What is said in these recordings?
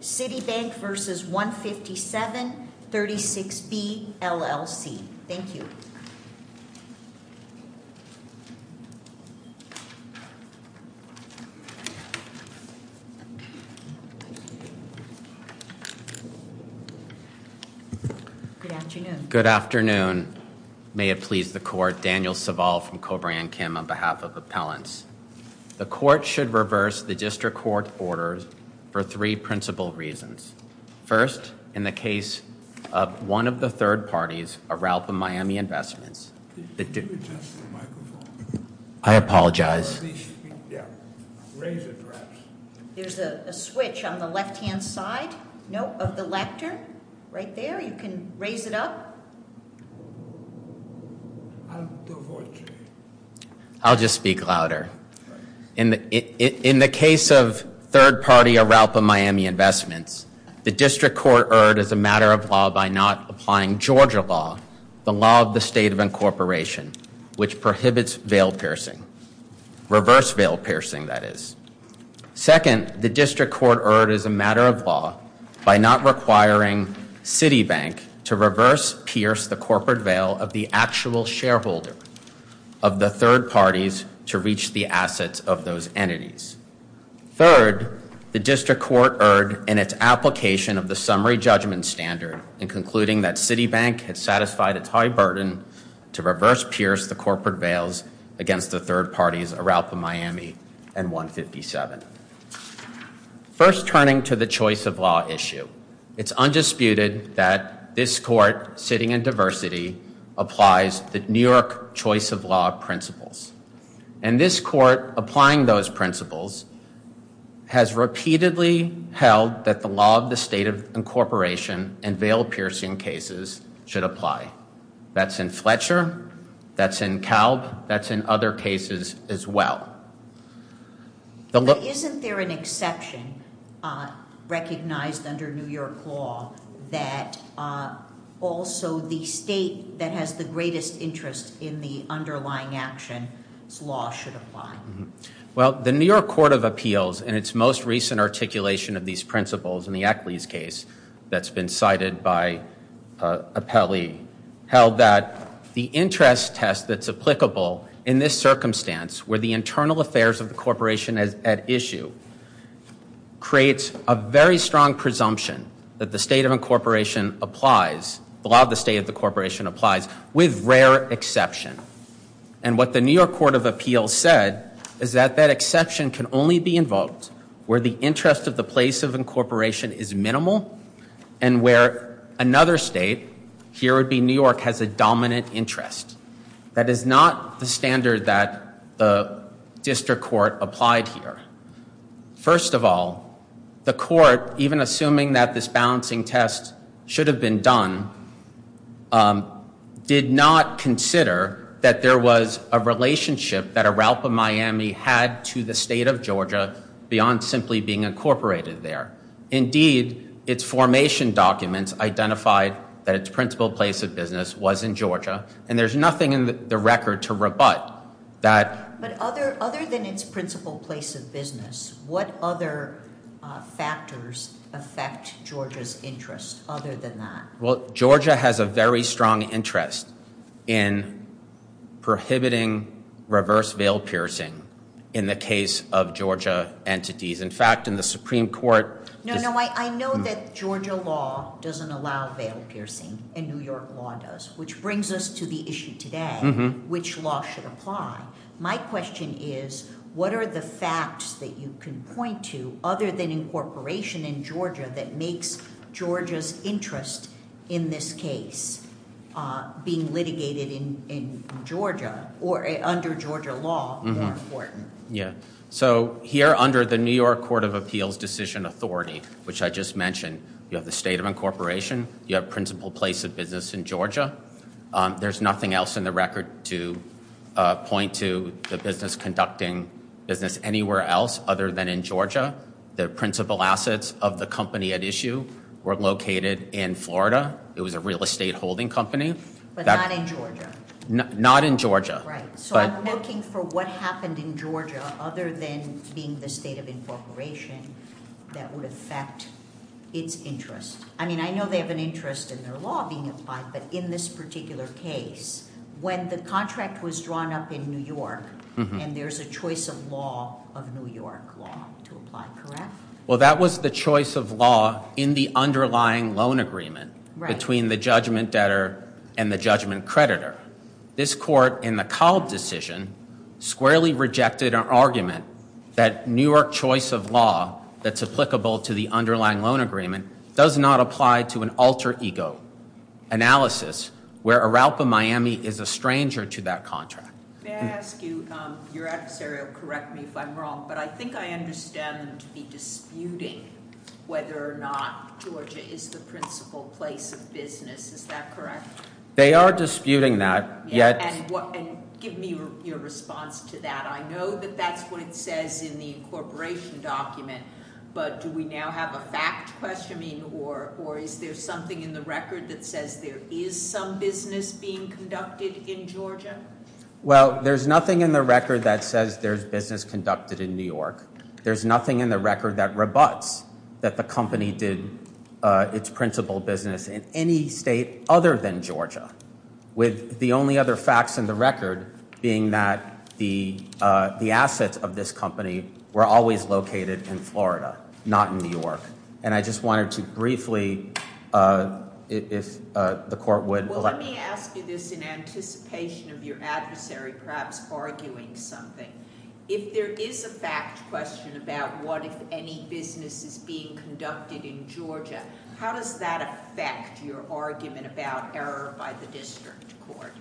Citibank, N.A. v. 157-36B, LL.C. Thank you. Good afternoon. Good afternoon. May it please the court. Daniel Saval from Cobra and Kim on behalf of Appellants. The court should reverse the district court orders for three principal reasons. First, in the case of one of the third parties, Aralpa Miami Investments. I apologize. There's a switch on the left hand side. No, of the lectern. Right there. You can raise it up. I'll just speak louder. In the case of third party Aralpa Miami Investments, the district court erred as a matter of law by not applying Georgia law, the law of the state of incorporation, which prohibits veil piercing. Reverse veil piercing, that is. Second, the district court erred as a matter of law by not requiring Citibank to reverse pierce the corporate veil of the actual shareholder of the third parties to reach the assets of those entities. Third, the district court erred in its application of the summary judgment standard in concluding that Citibank had satisfied its high burden to reverse pierce the corporate veils against the third parties Aralpa Miami and 157. First, turning to the choice of law issue. It's undisputed that this court, sitting in diversity, applies the New York choice of law principles. And this court, applying those principles, has repeatedly held that the law of the state of incorporation and veil piercing cases should apply. That's in Fletcher. That's in Kalb. That's in other cases as well. Isn't there an exception recognized under New York law that also the state that has the greatest interest in the underlying action, its law should apply? Well, the New York Court of Appeals, in its most recent articulation of these principles, in the Ackley's case that's been cited by Apelli, held that the interest test that's applicable in this circumstance, where the internal affairs of the corporation is at issue, creates a very strong presumption that the state of incorporation applies, the law of the state of the corporation applies, with rare exception. And what the New York Court of Appeals said is that that exception can only be invoked where the interest of the place of incorporation is minimal and where another state, here would be New York, has a dominant interest. That is not the standard that the district court applied here. First of all, the court, even assuming that this balancing test should have been done, did not consider that there was a relationship that Aralpa Miami had to the state of Georgia beyond simply being incorporated there. Indeed, its formation documents identified that its principal place of business was in Georgia and there's nothing in the record to rebut that. But other than its principal place of business, what other factors affect Georgia's interest other than that? Well, Georgia has a very strong interest in prohibiting reverse veil piercing in the case of Georgia entities. In fact, in the Supreme Court... No, no, I know that Georgia law doesn't allow veil piercing and New York law does, which brings us to the issue today, which law should apply. My question is, what are the facts that you can point to, other than incorporation in Georgia, that makes Georgia's interest in this case being litigated in Georgia or under Georgia law more important? Yeah, so here under the New York Court of Appeals decision authority, which I just mentioned, you have the state of incorporation, you have there's nothing else in the record to point to the business conducting business anywhere else other than in Georgia. The principal assets of the company at issue were located in Florida. It was a real estate holding company. But not in Georgia? Not in Georgia. Right, so I'm looking for what happened in Georgia other than being the state of incorporation that would affect its interest. I mean, I know they have an interest in their law being applied, but in this particular case, when the contract was drawn up in New York and there's a choice of law of New York law to apply, correct? Well, that was the choice of law in the underlying loan agreement between the judgment debtor and the judgment creditor. This court in the Cald decision squarely rejected an argument that New York choice of law that's applicable to the underlying loan agreement does not apply to an alter ego analysis where Aralpa Miami is a stranger to that contract. May I ask you, your adversary will correct me if I'm wrong, but I think I understand them to be disputing whether or not Georgia is the principal place of business. Is that correct? They are disputing that. And give me your response to that. I know that that's what it says in the incorporation document, but do we now have a fact questioning or is there something in the record that says there is some business being conducted in Georgia? Well, there's nothing in the record that says there's business conducted in New York. There's nothing in the record that rebuts that the company did its principal business in any state other than Georgia, with the only other facts in the record being that the, uh, the assets of this company were always located in Florida, not in New York. And I just wanted to briefly, uh, if, uh, the court would. Well, let me ask you this in anticipation of your adversary, perhaps arguing something. If there is a fact question about what, if any business is being conducted in Georgia, how does that affect your argument about error by the district court?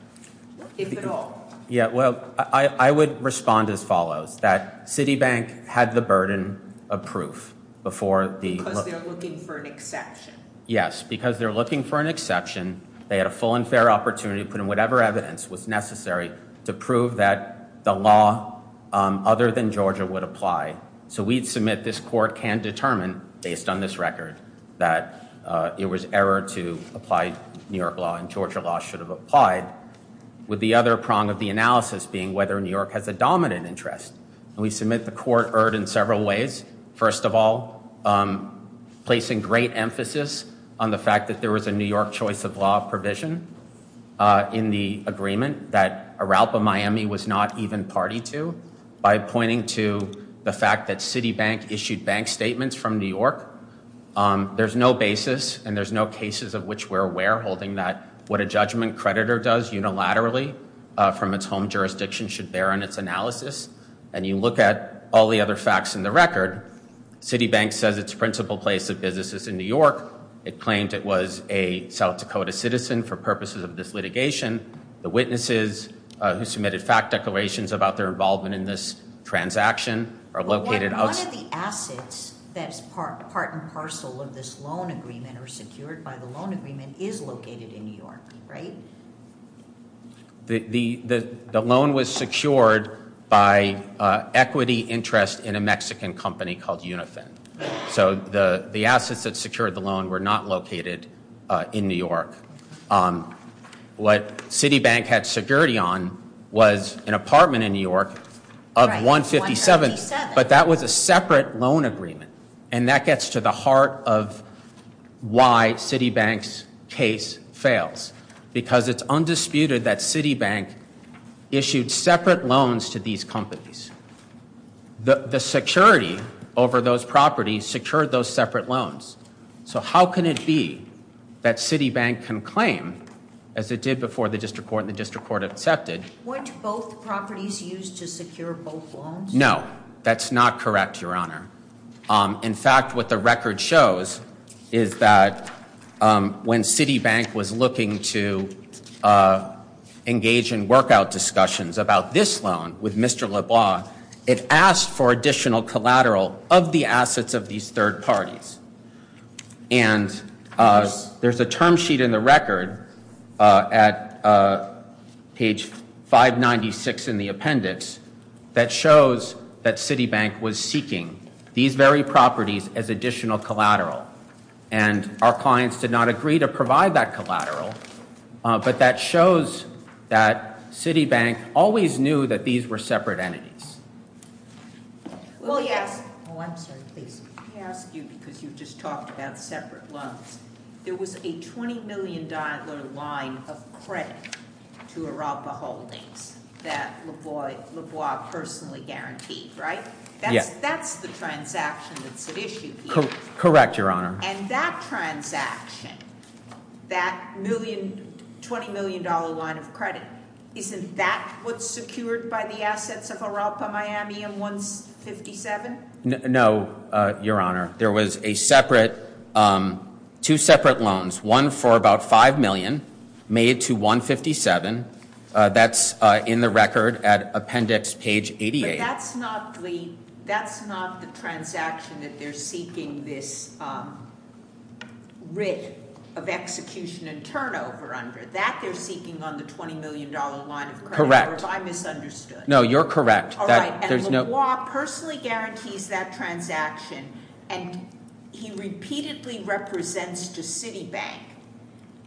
If at all. Yeah, well, I would respond as follows, that Citibank had the burden of proof before the. Because they're looking for an exception. Yes, because they're looking for an exception. They had a full and fair opportunity to put in whatever evidence was necessary to prove that the law, um, other than Georgia would apply. So we'd submit this court can determine based on this record that, uh, it was error to apply New York law and Georgia law should have applied. With the other prong of the analysis being whether New York has a dominant interest. And we submit the court erred in several ways. First of all, um, placing great emphasis on the fact that there was a New York choice of law provision, uh, in the agreement that Aralpa Miami was not even party to by pointing to the fact that Citibank issued bank statements from New York. Um, there's no basis and there's no cases of which we're aware, holding that what a judgment creditor does unilaterally from its home jurisdiction should bear on its analysis. And you look at all the other facts in the record. Citibank says its principal place of business is in New York. It claimed it was a South Dakota citizen for purposes of this litigation. The witnesses who submitted fact declarations about their involvement in this transaction are located outside. One of the assets that's part and parcel of this loan agreement or secured by the loan agreement is located in New York, right? The, the, the, the loan was secured by, uh, equity interest in a Mexican company called Unifin. So the, the assets that secured the loan were not located, uh, in New York. Um, what Citibank had security on was an apartment in New York of $157, but that was a separate loan agreement. And that gets to the heart of why Citibank's case fails. Because it's undisputed that Citibank issued separate loans to these companies. The, the security over those properties secured those separate loans. So how can it be that Citibank can claim as it did before the district court and the district to secure both loans? No, that's not correct, Your Honor. In fact, what the record shows is that, um, when Citibank was looking to, uh, engage in workout discussions about this loan with Mr. LeBlanc, it asked for additional collateral of the assets of these third parties. And, uh, there's a term sheet in the record, uh, at, uh, page 596 in the appendix. That shows that Citibank was seeking these very properties as additional collateral. And our clients did not agree to provide that collateral. But that shows that Citibank always knew that these were separate entities. Well, yes. Oh, I'm sorry, please. Let me ask you, because you've just talked about separate loans. There was a $20 million line of credit to Arapa Holdings that LeBlanc personally guaranteed, right? Yes. That's the transaction that's at issue here. Correct, Your Honor. And that transaction, that million, $20 million line of credit, isn't that what's secured by the assets of Arapa Miami in 157? No, Your Honor. There was a separate, um, two separate loans. One for about $5 million made to 157. That's, uh, in the record at appendix page 88. But that's not the, that's not the transaction that they're seeking this, um, writ of execution and turnover under. That they're seeking on the $20 million line of credit. Correct. Or have I misunderstood? No, you're correct. All right. And LeBlanc personally guarantees that transaction, and he repeatedly represents to Citibank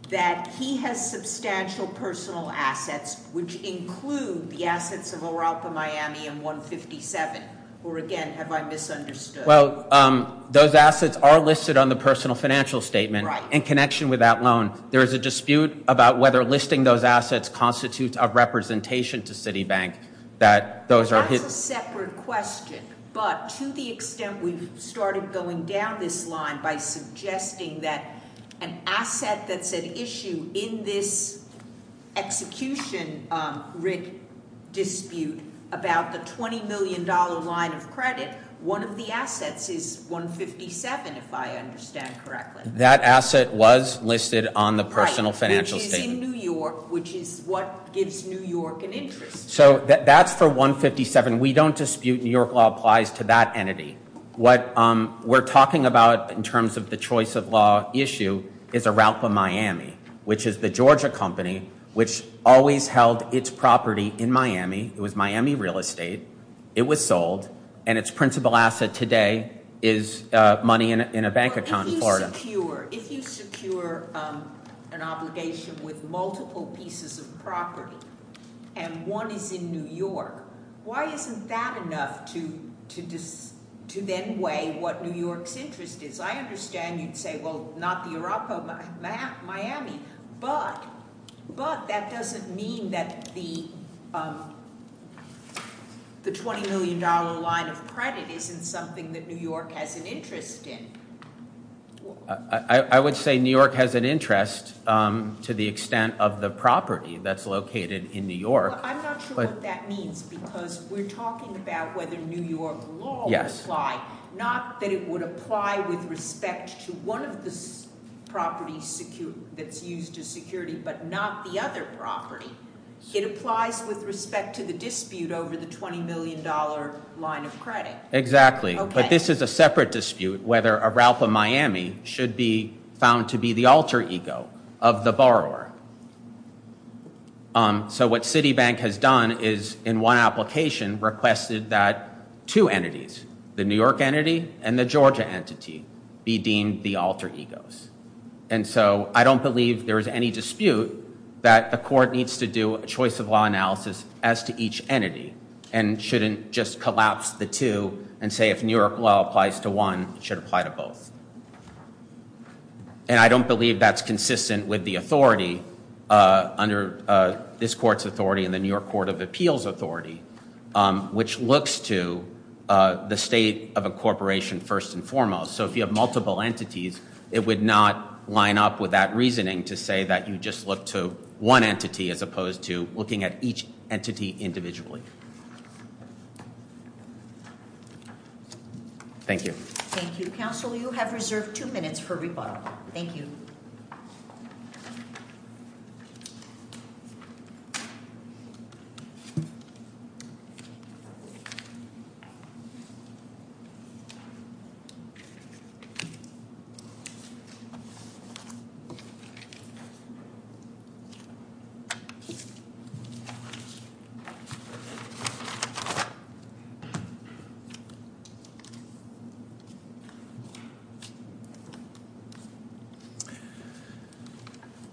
that he has substantial personal assets, which include the assets of Arapa Miami in 157. Or again, have I misunderstood? Well, um, those assets are listed on the personal financial statement. Right. In connection with that loan, there is a dispute about whether listing those assets constitutes a representation to Citibank, that those are his... That's a separate question. But to the extent we've started going down this line by suggesting that an asset that's at issue in this execution, um, writ dispute about the $20 million line of credit, one of the assets is 157, if I understand correctly. That asset was listed on the personal financial statement. Which is in New York, which is what gives New York an interest. So that's for 157. We don't dispute New York law applies to that entity. What, um, we're talking about in terms of the choice of law, is Arapa Miami, which is the Georgia company, which always held its property in Miami. It was Miami real estate. It was sold. And its principal asset today is money in a bank account in Florida. If you secure an obligation with multiple pieces of property, and one is in New York, why isn't that enough to then weigh what New York's interest is? I understand you'd say, well, not the Arapa Miami. But, but that doesn't mean that the, um, the $20 million line of credit isn't something that New York has an interest in. I would say New York has an interest, um, to the extent of the property that's located in New York. I'm not sure what that means. Because we're talking about whether New York law would apply. Not that it would apply with respect to one of the properties that's used as security, but not the other property. It applies with respect to the dispute over the $20 million line of credit. Exactly. But this is a separate dispute, whether Arapa Miami should be found to be the alter ego of the borrower. So what Citibank has done is, in one application, requested that two entities, the New York entity and the Georgia entity, be deemed the alter egos. And so I don't believe there is any dispute that the court needs to do a choice of law analysis as to each entity. And shouldn't just collapse the two and say, if New York law applies to one, it should apply to both. And I don't believe that's consistent with the authority, under this court's authority and the New York Court of Appeals authority, which looks to the state of a corporation first and foremost. So if you have multiple entities, it would not line up with that reasoning to say that you just look to one entity as opposed to looking at each entity individually. Thank you. Thank you. Counsel, you have reserved two minutes for rebuttal. Thank you. So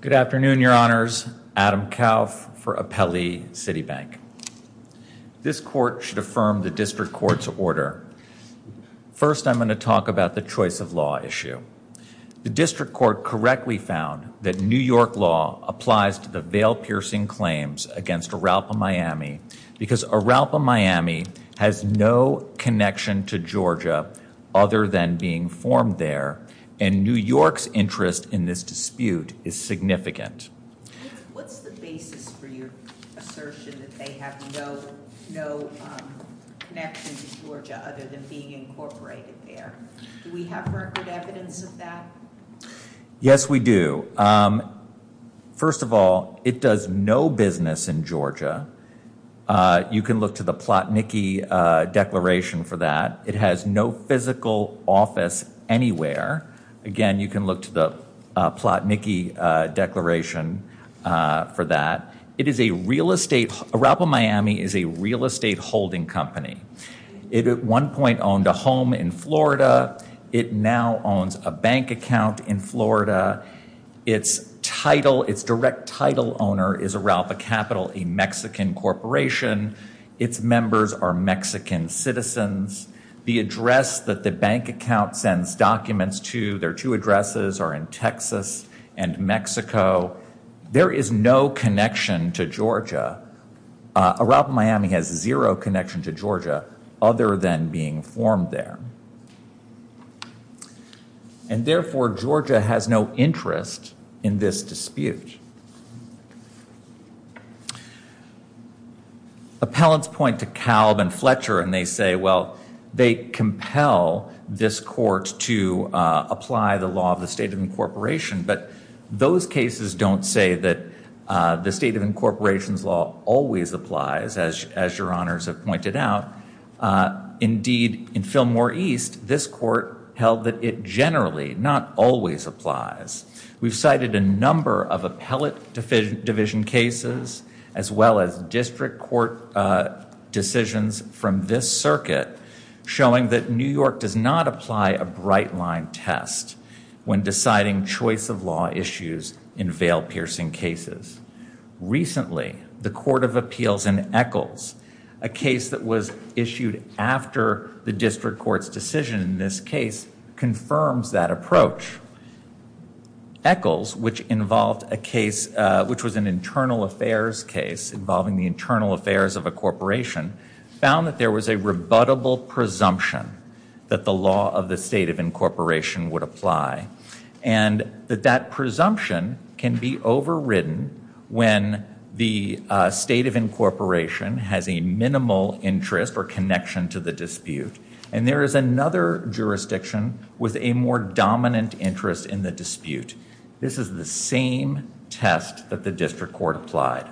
Good afternoon, Your Honors. Adam Kauf for Apelli Citibank. This court should affirm the district court's order. First, I'm going to talk about the choice of law issue. The district court correctly found that New York law applies to the veil-piercing claims against Aralpa, Miami, because Aralpa, Miami has no connection to Georgia other than being formed there. And New York's interest in this dispute is significant. What's the basis for your assertion that they have no connection to Georgia other than being incorporated there? Do we have record evidence of that? Yes, we do. First of all, it does no business in Georgia. You can look to the Plotnicki Declaration for that. It has no physical office anywhere. Again, you can look to the Plotnicki Declaration for that. Aralpa, Miami is a real estate holding company. It at one point owned a home in Florida. It now owns a bank account in Florida. Its direct title owner is Aralpa Capital, a Mexican corporation. Its members are Mexican citizens. The address that the bank account sends documents to, their two addresses are in Texas and Mexico. There is no connection to Georgia. Aralpa, Miami has zero connection to Georgia other than being formed there. And therefore, Georgia has no interest in this dispute. Appellants point to Kalb and Fletcher and they say, well, they compel this court to apply the law of the state of incorporation. But those cases don't say that the state of incorporation's law always applies, as your honors have pointed out. Indeed, in Fillmore East, this court held that it generally not always applies. We've cited a number of appellate division cases, as well as district court decisions from this circuit, showing that New York does not apply a bright line test when deciding choice of law issues in veil-piercing cases. Recently, the Court of Appeals in Eccles, a case that was issued after the district court's decision in this case, confirms that approach. Eccles, which was an internal affairs case involving the internal affairs of a corporation, found that there was a rebuttable presumption that the law of the state of incorporation would apply. And that that presumption can be overridden when the state of incorporation has a minimal interest or connection to the dispute. And there is another jurisdiction with a more dominant interest in the dispute. This is the same test that the district court applied.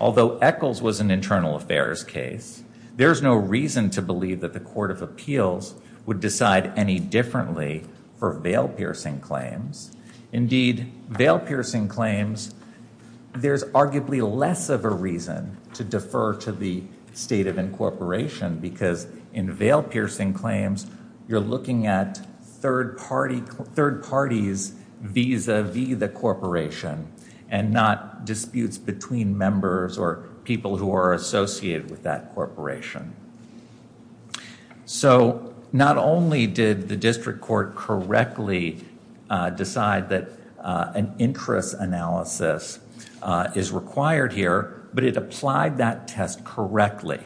Although Eccles was an internal affairs case, there's no reason to believe that the Court of Appeals would decide any differently for veil-piercing claims. Indeed, veil-piercing claims, there's arguably less of a reason to defer to the state of incorporation, because in veil-piercing claims, you're looking at third parties vis-a-vis the corporation and not disputes between members or people who are associated with that corporation. So not only did the district court correctly decide that an interest analysis is required here, but it applied that test correctly,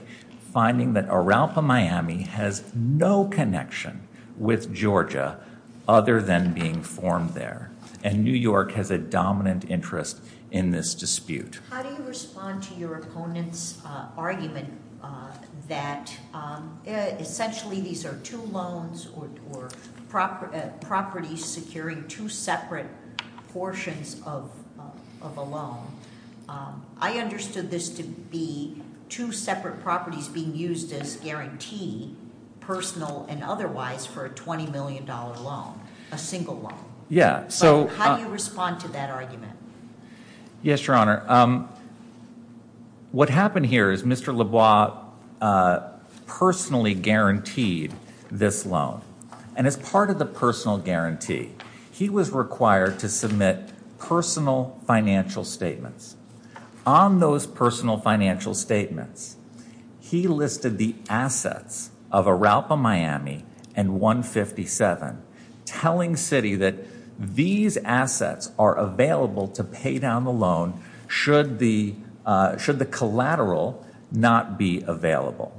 finding that Aralpa, Miami has no connection with Georgia other than being formed there. And New York has a dominant interest in this dispute. How do you respond to your opponent's argument that essentially these are two loans or properties securing two separate portions of a loan? I understood this to be two separate properties being used as guarantee, personal and otherwise, for a $20 million loan, a single loan. Yeah. So how do you respond to that argument? Yes, Your Honor. What happened here is Mr. Lebois personally guaranteed this loan. And as part of the personal guarantee, he was required to submit personal financial statements. On those personal financial statements, he listed the assets of Aralpa, Miami and 157, telling Citi that these assets are available to pay down the loan should the collateral not be available.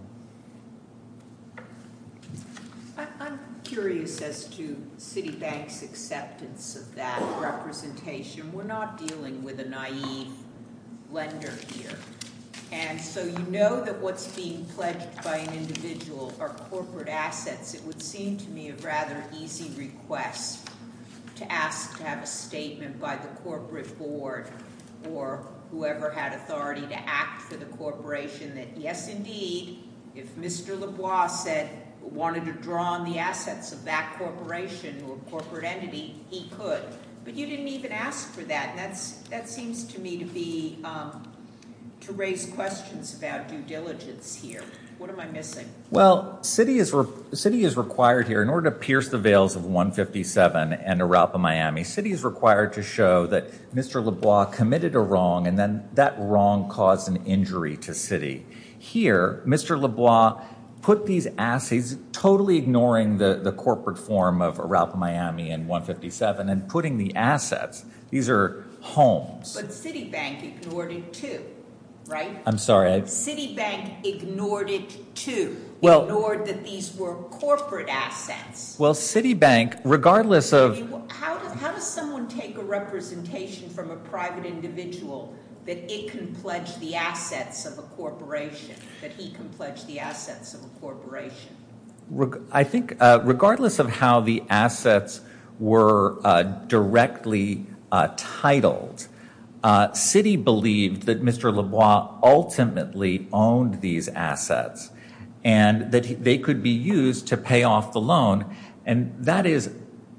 I'm curious as to Citi Bank's acceptance of that representation. We're not dealing with a naive lender here. And so you know that what's being pledged by an individual are corporate assets. It would seem to me a rather easy request to ask to have a statement by the corporate board or whoever had authority to act for the corporation that, yes, indeed, if Mr. Lebois wanted to draw on the assets of that corporation or corporate entity, he could. But you didn't even ask for that. And that seems to me to be to raise questions about due diligence here. What am I missing? Well, Citi is required here in order to pierce the veils of 157 and Aralpa, Miami. Citi is required to show that Mr. Lebois committed a wrong and then that wrong caused an injury to Citi. Here, Mr. Lebois put these assets, totally ignoring the corporate form of Aralpa, Miami and 157, and putting the assets. These are homes. But Citi Bank ignored it too, right? I'm sorry. Citi Bank ignored it too, ignored that these were corporate assets. Well, Citi Bank, regardless of... How does someone take a representation from a private individual that it can pledge the assets of a corporation, that he can pledge the assets of a corporation? I think regardless of how the assets were directly titled, Citi believed that Mr. Lebois ultimately owned these assets and that they could be used to pay off the loan. And that is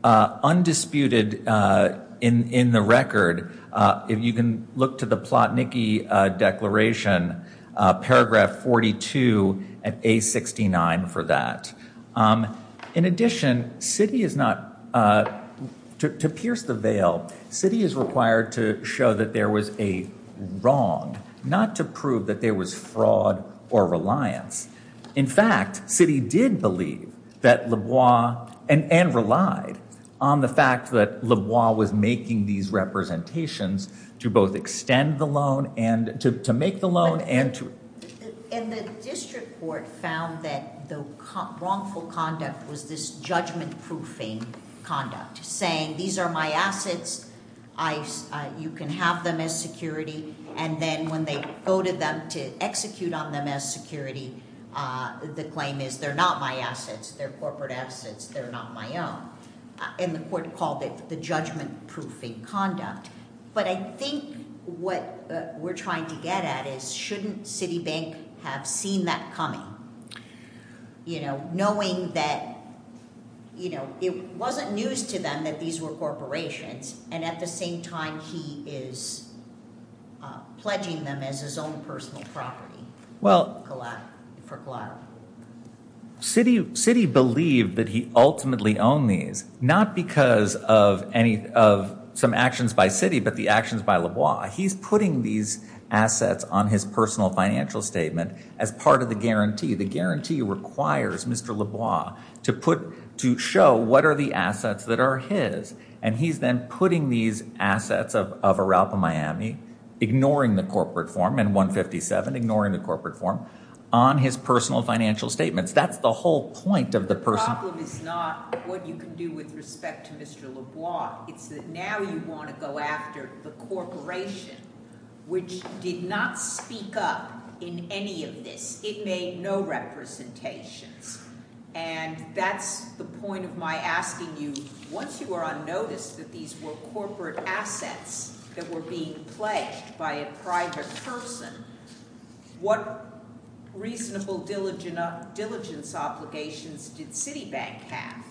undisputed in the record. If you can look to the Plotnicki Declaration, paragraph 42 and A69 for that. In addition, Citi is not... To pierce the veil, Citi is required to show that there was a wrong, not to prove that there was fraud or reliance. In fact, Citi did believe that Lebois, and relied on the fact that Lebois was making these representations to both extend the loan and to make the loan and to... And the district court found that the wrongful conduct was this judgment-proofing conduct, saying these are my assets, you can have them as security. And then when they go to them to execute on them as security, the claim is they're not my assets, they're corporate assets, they're not my own. And the court called it the judgment-proofing conduct. But I think what we're trying to get at is, shouldn't Citi Bank have seen that coming? Knowing that it wasn't news to them that these were corporations, and at the same time, he is pledging them as his own personal property. Why? Citi believed that he ultimately owned these, not because of some actions by Citi, but the actions by Lebois. He's putting these assets on his personal financial statement as part of the guarantee. The guarantee requires Mr. Lebois to show what are the assets that are his. And he's then putting these assets of Aralpa Miami, ignoring the corporate form, and 157, ignoring the corporate form, on his personal financial statements. That's the whole point of the person. The problem is not what you can do with respect to Mr. Lebois. It's that now you want to go after the corporation, which did not speak up in any of this. It made no representations. And that's the point of my asking you, once you are on notice that these were corporate assets that were being pledged by a private person, what reasonable diligence obligations did Citi Bank have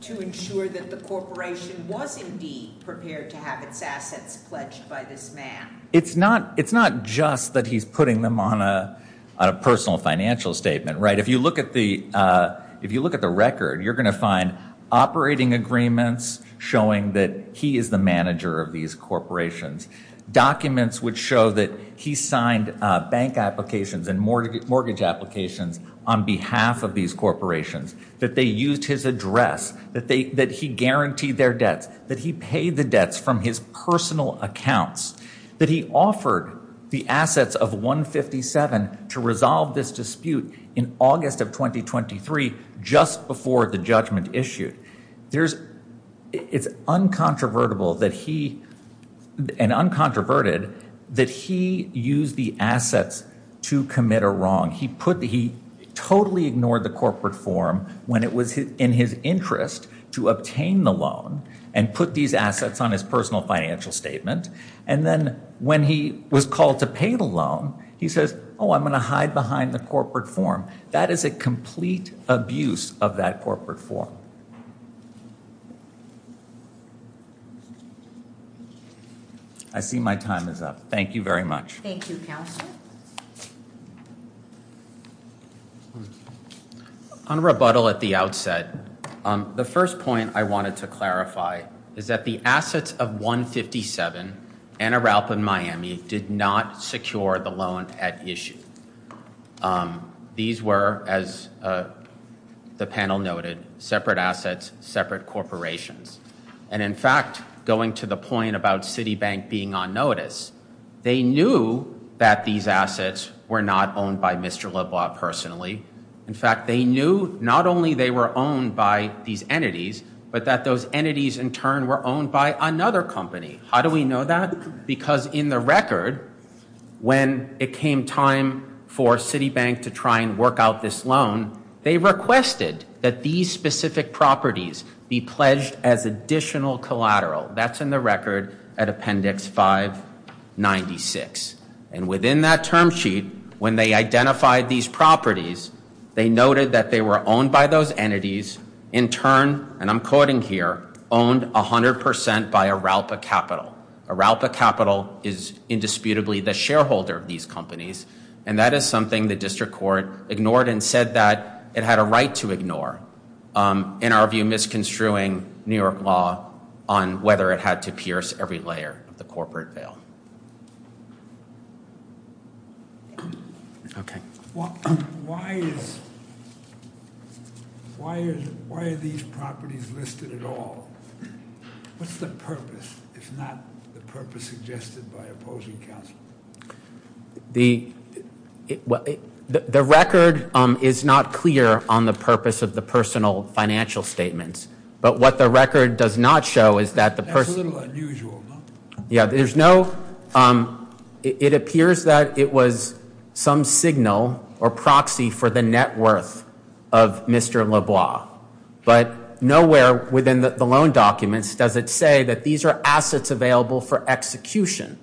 to ensure that the corporation was indeed prepared to have its assets pledged by this man? It's not just that he's putting them on a personal financial statement, right? If you look at the record, you're going to find operating agreements showing that he is the manager of these corporations. Documents would show that he signed bank applications and mortgage applications on behalf of these corporations, that they used his address, that he guaranteed their debts, that he paid the debts from his personal accounts, that he offered the assets of 157 to resolve this dispute in August of 2023, just before the judgment issued. There's, it's uncontrovertible that he, and uncontroverted, that he used the assets to commit a wrong. He put, he totally ignored the corporate form when it was in his interest to obtain the loan and put these assets on his personal financial statement. And then when he was called to pay the loan, he says, oh, I'm going to hide behind the corporate form. That is a complete abuse of that corporate form. I see my time is up. Thank you very much. Thank you, Counselor. On rebuttal at the outset, the first point I wanted to clarify is that the assets of 157 and Aralpan Miami did not secure the loan at issue. These were, as the panel noted, separate assets, separate corporations. And in fact, going to the point about Citibank being on notice, they knew that these assets were not owned by Mr. LeBlanc personally. In fact, they knew not only they were owned by these entities, but that those entities in turn were owned by another company. How do we know that? Because in the record, when it came time for Citibank to try and work out this loan, they requested that these specific properties be pledged as additional collateral. That's in the record at Appendix 596. And within that term sheet, when they identified these properties, they noted that they were owned by those entities, in turn, and I'm quoting here, owned 100% by Aralpa Capital. Aralpa Capital is indisputably the shareholder of these companies. And that is something the district court ignored and said that it had a right to ignore, in our view, misconstruing New York law on whether it had to pierce every layer of the corporate veil. Okay. Why are these properties listed at all? What's the purpose, if not the purpose suggested by opposing counsel? Well, the record is not clear on the purpose of the personal financial statements. But what the record does not show is that the person- That's a little unusual, huh? Yeah. It appears that it was some signal or proxy for the net worth of Mr. LeBlanc. But nowhere within the loan documents does it say that these are assets available for execution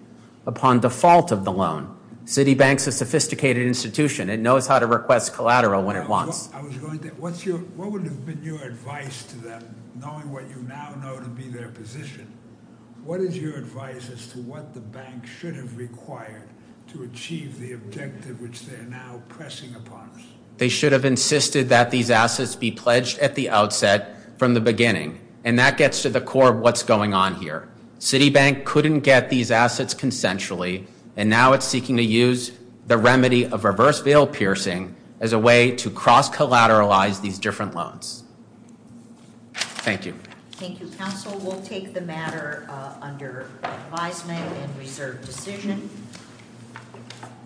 upon default of the loan. Citibank's a sophisticated institution. It knows how to request collateral when it wants. What would have been your advice to them, knowing what you now know to be their position? What is your advice as to what the bank should have required to achieve the objective which they're now pressing upon us? They should have insisted that these assets be pledged at the outset from the beginning. And that gets to the core of what's going on here. Citibank couldn't get these assets consensually. And now it's seeking to use the remedy of reverse veil piercing as a way to cross-collateralize these different loans. Thank you. Thank you, counsel. We'll take the matter under advisement and reserve decision.